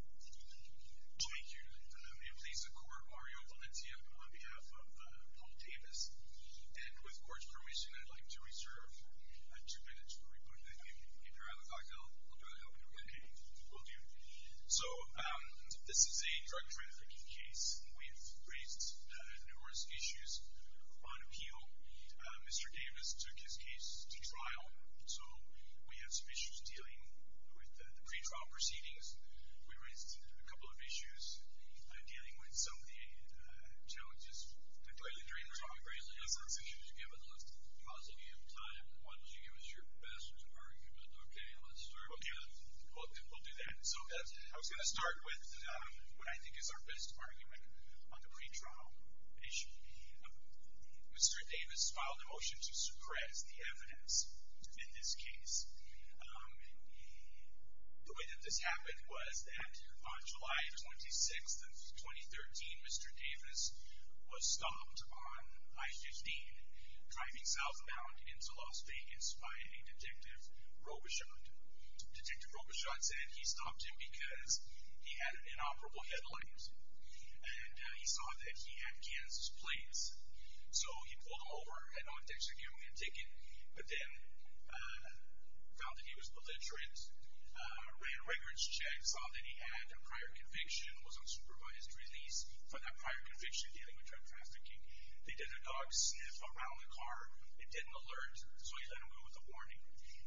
Thank you. May it please the court, Mario Valencia on behalf of Paul Davis, and with court's permission, I'd like to reserve two minutes for reporting. If you have a thought, I'll try to help you with it. Okay. Will do. So, this is a drug trafficking case. We've raised numerous issues on appeal. Mr. Davis took his case to trial, so we have raised a couple of issues dealing with the pretrial proceedings. We raised a couple of issues dealing with some of the challenges with drug trafficking. I think you should give us a little pause if you have time. Why don't you give us your best argument? Okay. Let's start with you. Okay. We'll do that. So, I was going to start with what I think is our best argument on the pretrial issue. Mr. Davis filed a motion to suppress the evidence in this case. The way that this happened was that on July 26th of 2013, Mr. Davis was stopped on I-15 driving southbound into Las Vegas by a Detective Robichaud. Detective Robichaud said he stopped him because he had an inoperable headlight and he saw that he had Kansas plates. So, he pulled them over, had no intention of giving him a ticket, but then found that he was belligerent, ran records checks, saw that he had a prior conviction, was on supervised release for that prior conviction dealing with drug trafficking. They did a dog sniff around the car. It didn't alert, so he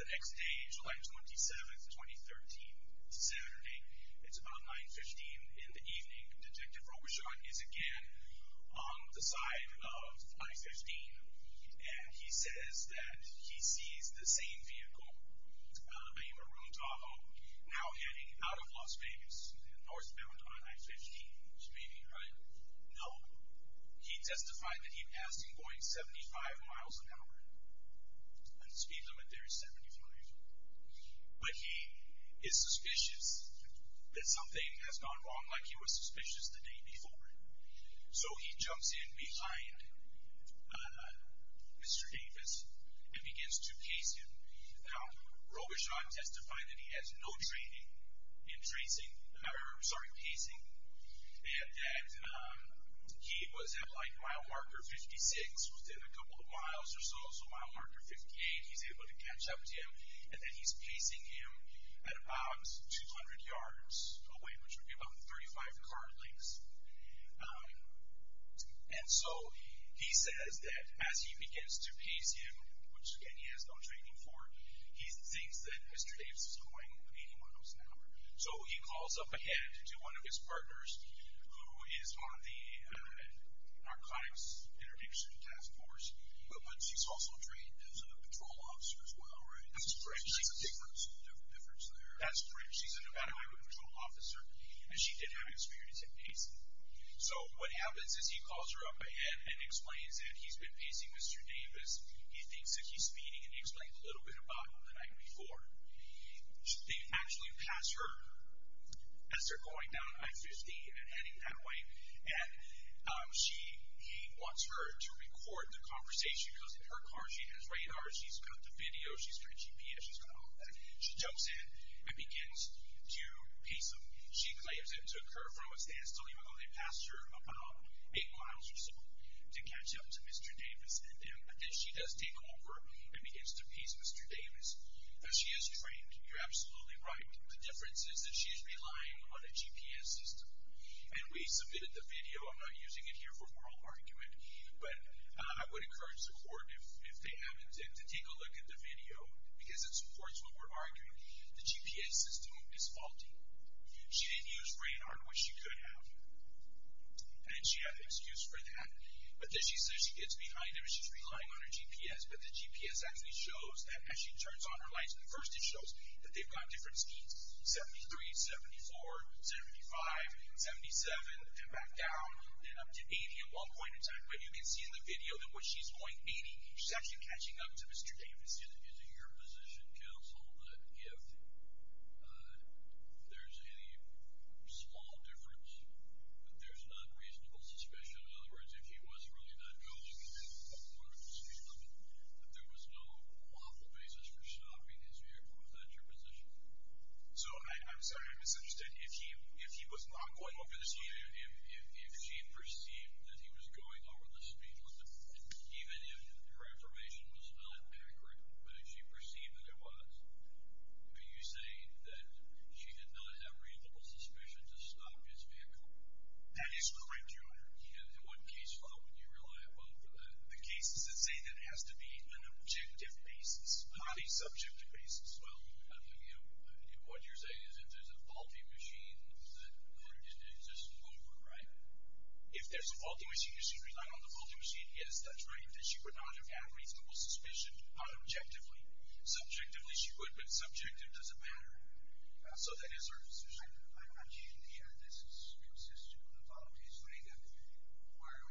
The next day, July 27th of 2013, Saturday, it's about 9.15 in the evening. Detective Robichaud is again on the side of I-15 and he says that he sees the same vehicle, a Maroon Tahoe, now heading out of Las Vegas, northbound on I-15. He testified that he passed him going 75 miles an hour, and speed limit there is 75, but he is suspicious that something has gone wrong, like he was suspicious the day before. So, he jumps in behind Mr. Davis and begins to pace him. Now, Robichaud testified that he has no training in pacing and that he was like mile marker 56 within a couple of miles or so, so mile marker 58, he's able to catch up to him, and that he's pacing him at about 200 yards away, which would be about 35 car lengths. And so, he says that as he begins to pace him, which again, he has no training for, he thinks that Mr. Davis is going 80 miles an hour. So, he calls up ahead to one of his partners, who is on the narcotics intervention task force, but she's also trained as a patrol officer as well, right? That's correct. So, she's a different sort of difference there. That's correct. She's a Nevada Highway Patrol officer, and she did have experience in pacing. So, what happens is he calls her up ahead and explains that he's been pacing Mr. Davis. He thinks that he's speeding, and he explained a little bit about it the night before. They actually pass her as they're going down I-50 and heading that way, and he wants her to record the conversation. He goes in her car, she has radars, she's got the video, she's got a GPS, she's got all of that. She jumps in and begins to pace him. She claims it took her from a standstill, even though they passed her about eight miles or so, to catch up to Mr. Davis. And then she does take over and begins to pace Mr. Davis. Now, she is trained. You're absolutely right. The difference is that she's relying on a GPS system. And we submitted the video. I'm not using it here for moral argument, but I would encourage the court, if they haven't, to take a look at the video, because it supports what we're arguing. The GPS system is faulty. She didn't use radar in what she could have, and she had an excuse for that. But then she says she gets behind him and she's relying on her GPS, but the GPS actually shows that as she turns on her lights at first, it shows that they've got different speeds, 73, 74, 75, 77, and back down to 80 at one point in time. But you can see in the video that what she's doing, meaning she's actually catching up to Mr. Davis. Is it your position, counsel, that if there's any small difference, that there's not reasonable suspicion? In other words, if he was really not going over the speed limit, that there was no lawful basis for stopping his vehicle? Is that your position? So, I'm sorry, I misunderstood. If he was not going over the speed limit? Even if her affirmation was not accurate, but if she perceived that it was, would you say that she did not have reasonable suspicion to stop his vehicle? That is correct, Your Honor. And what case law would you rely upon for that? The cases that say that it has to be an objective basis, not a subjective basis. Well, what you're saying is if there's a faulty machine, then it's just over, right? If there's a faulty machine, is she relying on the faulty machine? Yes, that's right. Then she would not have had reasonable suspicion, not objectively. Subjectively, she would, but subjective doesn't matter. So that is her position. I imagine the analysis consists of a voluntary statement where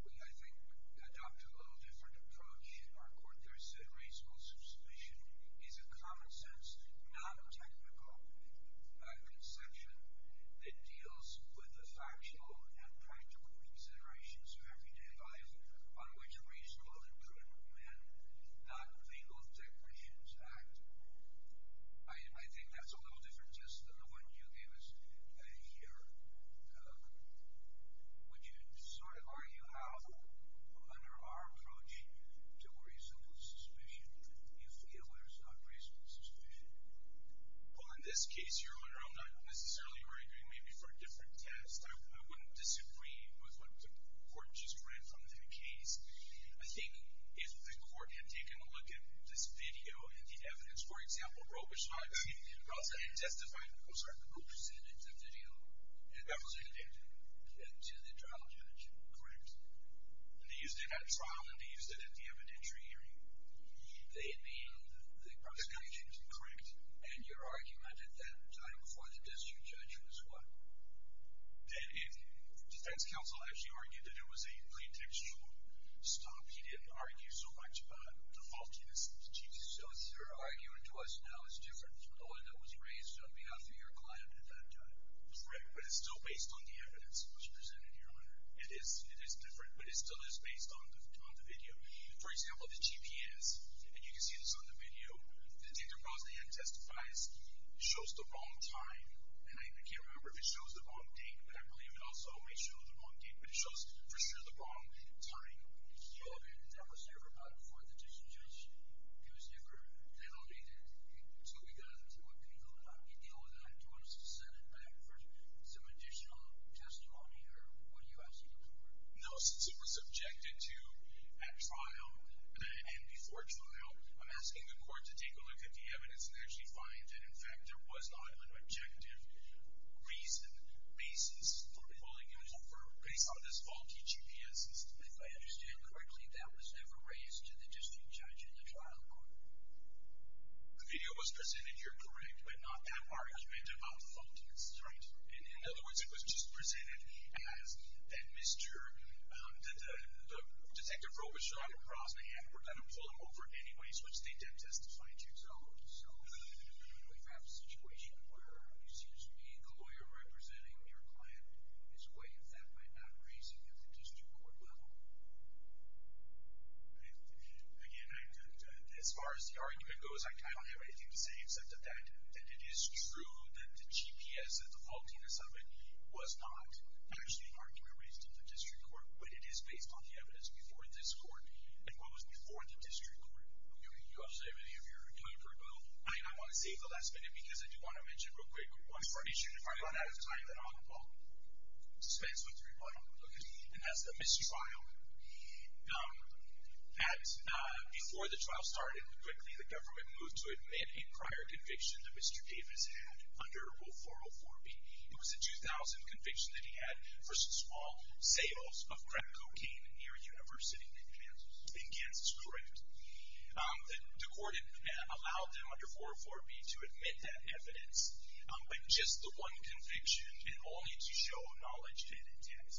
we, I think, would adopt a little different approach in our court. There is a reasonable suspicion. A reasonable suspicion is a common-sense, non-technical conception that deals with the factual and practical considerations of everyday life on which reasonable and critical men, not legal technicians, act. I think that's a little different just than the one you gave us here. Would you sort of argue how, under our approach to reasonable suspicion, you feel there's not reasonable suspicion? Well, in this case, Your Honor, I'm not necessarily arguing maybe for a different test. I wouldn't disagree with what the court just read from the case. I think if the court had taken a look at this video and the evidence, for example, Robertson testified in the video. That was a video? To the trial judge. Correct. And they used it at trial and they used it at the evidentiary hearing. They mean the prosecution? Correct. And your argument at that time before the district judge was what? The defense counsel actually argued that it was a plaintiff's fault. Stop. He didn't argue so much about the faultiness of the Chief Justice. So your argument to us now is different from the one that was raised on behalf of your client at that time. Correct, but it's still based on the evidence which was presented, Your Honor. It is different, but it still is based on the video. For example, the GPS, and you can see this on the video, the date that Rosalind testifies shows the wrong time, and I can't remember if it shows the wrong date, but I believe it also may show the wrong date, but it shows for sure the wrong time. That was never brought before the district judge. It was never denotated. So we've got to deal with that in terms of setting back for some additional testimony, or what do you have to do for it? No, since it was objected to at trial and before trial, I'm asking the court to take a look at the evidence and actually find that, in fact, there was not an objective reason, basis for pulling it over based on this faulty GPS system. If I understand correctly, that was never raised to the district judge in the trial court. The video was presented, you're correct, but not that argument about the faultiness. Right. In other words, it was just presented as, that Detective Robichaud and Rosalind were going to pull him over anyways, which they did testify to. So we have a situation where it seems to me the lawyer representing your client is weighing that by not raising it at the district court level. Again, as far as the argument goes, I don't have anything to say except that it is true that the GPS, the faultiness of it, was not actually argued or raised at the district court, but it is based on the evidence before this court and what was before the district court. Do you want to say anything of your counterargument? I want to save the last minute because I do want to mention real quick one more issue. If I run out of time, then I'll spend some time looking. And that's the mistrial. Before the trial started, quickly the government moved to admit a prior conviction that Mr. Davis had under Rule 404B. It was a 2000 conviction that he had for small sales of crack cocaine near a university in Kansas. Correct? The court allowed them under 404B to admit that evidence, but just the one conviction and only to show knowledge and intent.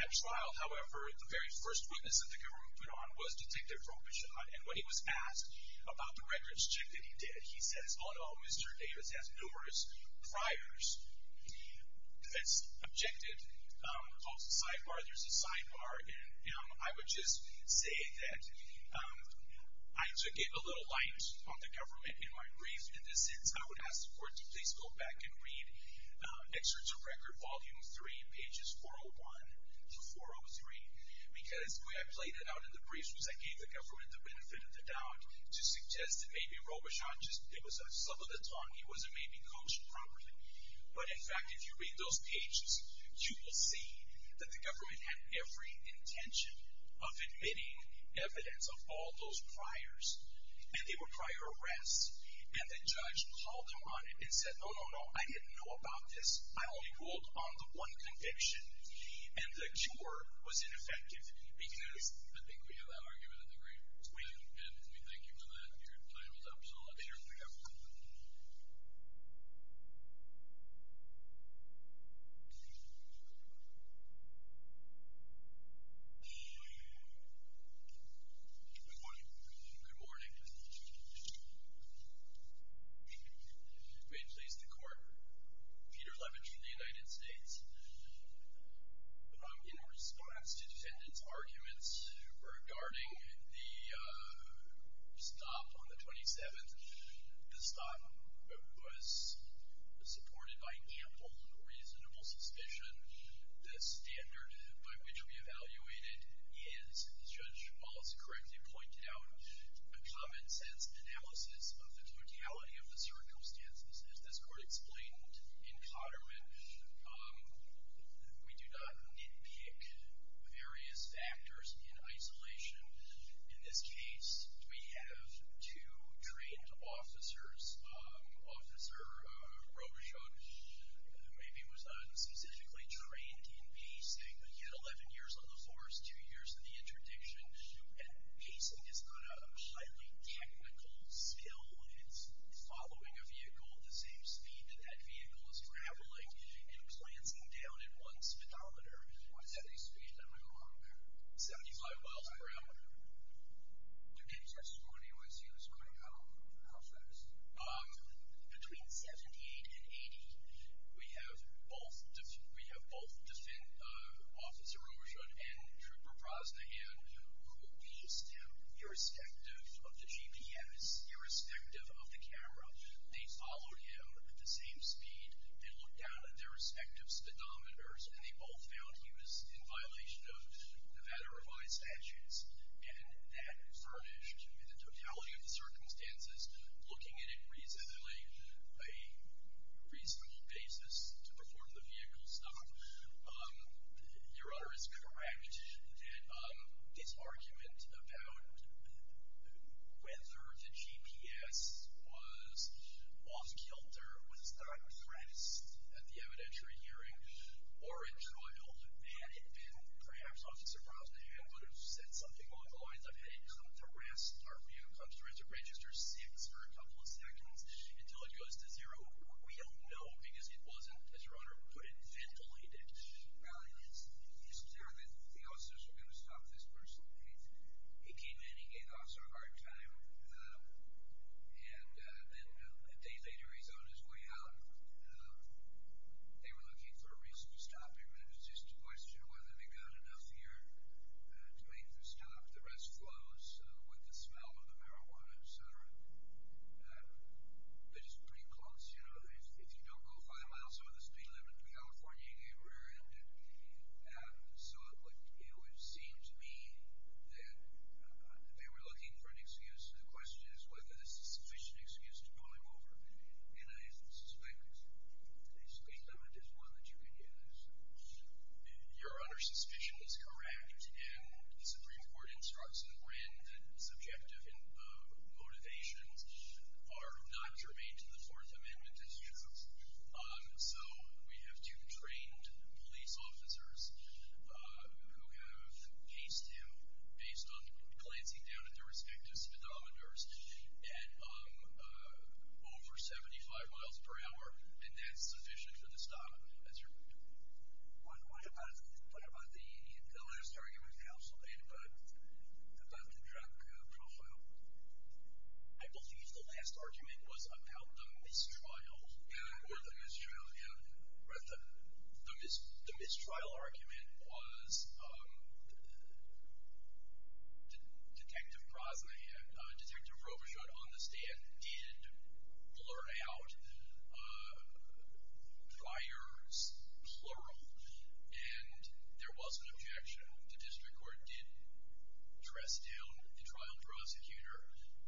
At trial, however, the very first witness that the government put on was Detective Robichaud, and when he was asked about the records check that he did, he says, Oh, no, Mr. Davis has numerous priors. That's objective. Also, sidebar, there's a sidebar. I would just say that I just gave a little light on the government in my brief. In the sense I would ask the court to please go back and read Excerpts of Record, Volume 3, Pages 401-403, because the way I played it out in the briefs was I gave the government the benefit of the doubt to suggest that maybe Robichaud just was a slip of the tongue, he wasn't maybe coached properly. But, in fact, if you read those pages, you will see that the government had every intention of admitting evidence of all those priors, and they were prior arrests. And the judge called him on it and said, Oh, no, no, I didn't know about this. I only ruled on the one conviction. And the cure was ineffective, because I think we have an argument in the room. And we thank you for that. Your time is up. Solicitor, we have a quorum. Good morning. Good morning. May it please the court, Peter Levitch of the United States. In response to defendants' arguments regarding the stop on the 27th, the stop was supported by ample reasonable suspicion. The standard by which we evaluated is, Judge Wallace correctly pointed out, a common-sense analysis of the totality of the circumstances. As this court explained in Cotterman, we do not nitpick various factors in isolation. In this case, we have two trained officers. Officer Robichaud maybe was unspecifically trained in pacing. He had 11 years on the force, two years in the interdiction, and pacing is not a highly technical skill. It's following a vehicle at the same speed that that vehicle is traveling and glancing down at one speedometer. What is that, a speedometer? 75 miles per hour. You did your score on AYC this morning. How fast? Between 78 and 80. We have both officer Robichaud and Trooper Brosnahan, who used him irrespective of the GPS, irrespective of the camera. They followed him at the same speed. They looked down at their respective speedometers, and they both found he was in violation of Nevada Revised Statutes. And that furnished, in the totality of the circumstances, looking at it reasonably, a reasonable basis to perform the vehicle stop. Your honor is correct. This argument about whether the GPS was off-kilter, was not pressed at the evidentiary hearing or in trial, had it been perhaps officer Brosnahan would have said something along the lines of, Our view comes to register six for a couple of seconds until it goes to zero. We don't know because it wasn't, as your honor would put it, ventilated. Now, it's clear that the officers are going to stop this person. He came in, he gave the officer a hard time, and then a day later he's on his way out. They were looking for a reason to stop him, and it was just a question of whether they got enough here to make the stop. The rest flows with the smell of the marijuana, et cetera. They're just pretty close. If you don't go five miles over the speed limit in California, you get rear-ended. So it would seem to me that they were looking for an excuse, and the question is whether this is a sufficient excuse to pull him over. And I suspect a speed limit is one that you can use. Your honor's suspicion is correct, and the Supreme Court instructs in Wren that subjective motivations are not germane to the Fourth Amendment, it's true. So we have two trained police officers who have paced him based on glancing down at their respective speedometers at over 75 miles per hour, and that's sufficient for the stop. What about the last argument counsel made about the drug profile? I believe the last argument was about the mistrial. Yeah, or the mistrial, yeah. The mistrial argument was Detective Rovershutt on the stand did blur out fires, plural, and there was an objection. The district court did dress down the trial prosecutor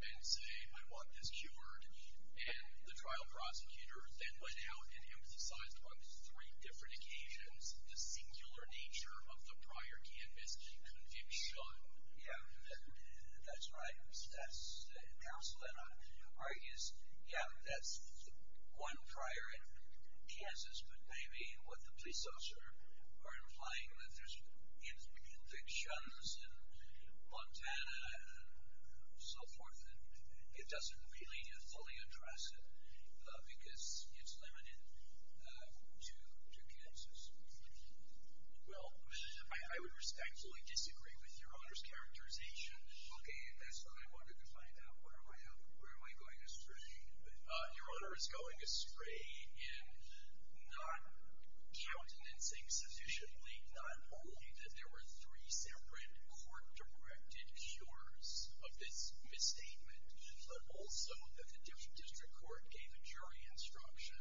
and say, I want this cured, and the trial prosecutor then went out and emphasized on three different occasions the singular nature of the prior campus conviction. That's right. Counsel then argues, yeah, that's one prior in Kansas, but maybe what the police officer are implying, that there's convictions in Montana and so forth, and it doesn't really fully address it because it's limited to Kansas. Well, I would respectfully disagree with Your Honor's characterization. Okay, that's what I wanted to find out. Where am I going astray? Your Honor is going astray in not countenancing sufficiently, not only that there were three separate court-directed cures of this misstatement, but also that the district court gave a jury instruction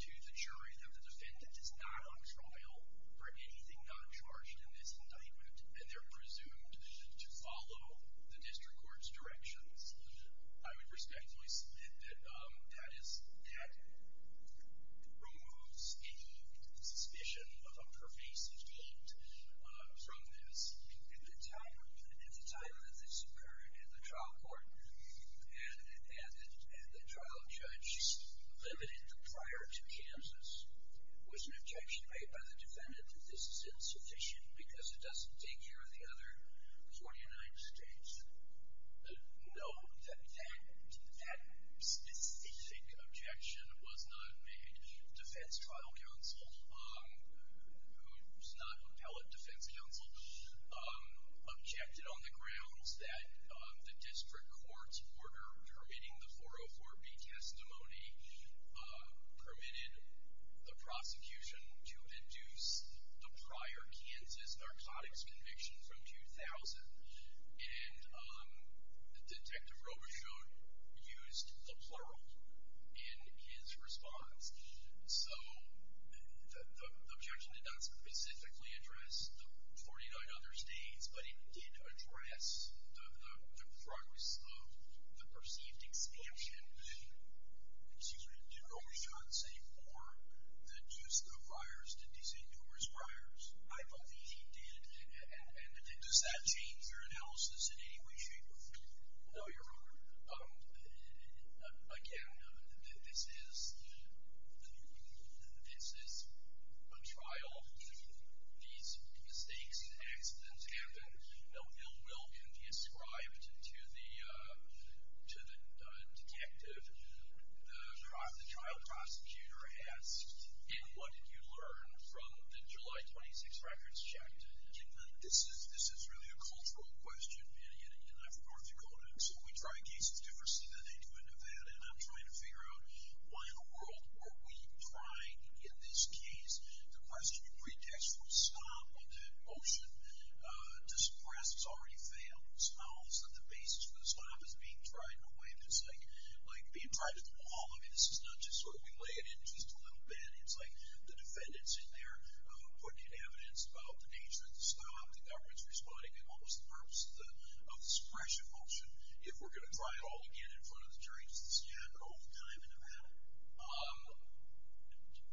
to the jury that the defendant is not on trial for anything not charged in this indictment, and they're presumed to follow the district court's directions. I would respectfully submit that that removes any suspicion of a pervasive guilt from this. At the time that this occurred in the trial court, and the trial judge limited it prior to Kansas, was an objection made by the defendant that this is insufficient because it doesn't take care of the other 49 states? No, that specific objection was not made. Defense trial counsel, who's not appellate defense counsel, objected on the grounds that the district court's order permitting the 404B testimony permitted the prosecution to induce the prior Kansas narcotics conviction from 2000, and Detective Robichaud used the plural in his response. So the objection did not specifically address the 49 other states, but it did address the progress of the perceived exemption. Excuse me, did Robichaud say, for the use of the virus to desecrate numerous priors? I believe he did. And does that change your analysis in any way, shape, or form? No, Your Honor. Again, this is a trial. These mistakes and accidents happen. No ill will can be ascribed to the detective. The trial prosecutor asked, and what did you learn from the July 26th records check? This is really a cultural question in North Dakota, so we try cases differently than they do in Nevada, and I'm trying to figure out why in the world are we trying in this case to question the pretext for the stop of that motion to suppress what's already failed, smiles that the basis for the stop is being tried in a way that's like being tried at the wall. I mean, this is not just sort of we lay it in just a little bit. It's like the defendant's in there putting evidence about the nature of the stop, the government's responding, and what was the purpose of the suppression motion, if we're going to try it all again in front of the jury, since you had no time in Nevada.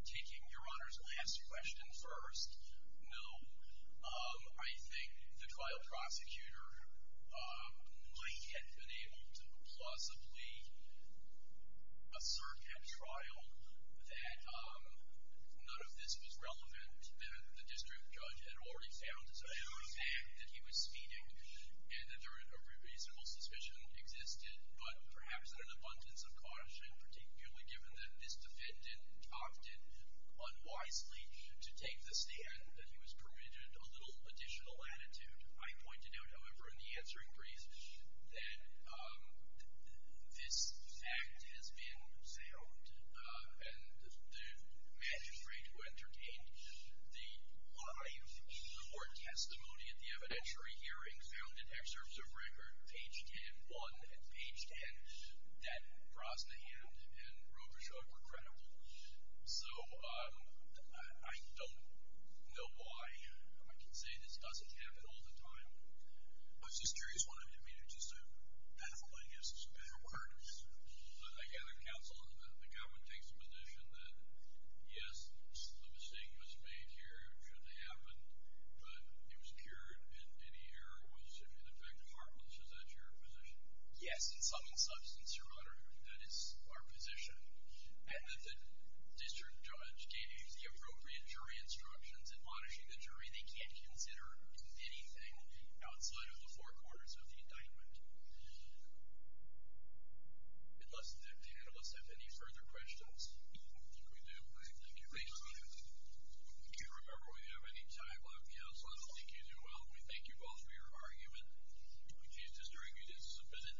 Taking Your Honor's last question first, no. I think the trial prosecutor might have been able to plausibly assert at trial that none of this was relevant, that the district judge had already found as a matter of fact that he was speeding and that there was a reasonable suspicion existed, but perhaps in an abundance of caution, particularly given that this defendant opted unwisely to take the stand, that he was permitted a little additional latitude. I pointed out, however, in the answering brief, that this act has been found, and the magistrate who entertained the live court testimony at the evidentiary hearing found in excerpts of record, page 10-1 and page 10, that Brosnahan and Robichaud were credible. So I don't know why I can say this doesn't happen all the time. I was just curious, one of them didn't mean it, just a pathologist. But I gather counsel, the government takes the position that, yes, the mistake was made here, it shouldn't have happened, but it was pure and any error was, in effect, heartless. Is that your position? Yes. In sum and substance, Your Honor, that is our position. And that the district judge gave you the appropriate jury instructions, and punishing the jury, they can't consider anything outside of the four quarters of the indictment. Unless the panelists have any further questions. We do. Thank you. Thank you. If you remember we have any time left, counsel, I don't think you do well. We thank you both for your argument. If you disagree, please submit it.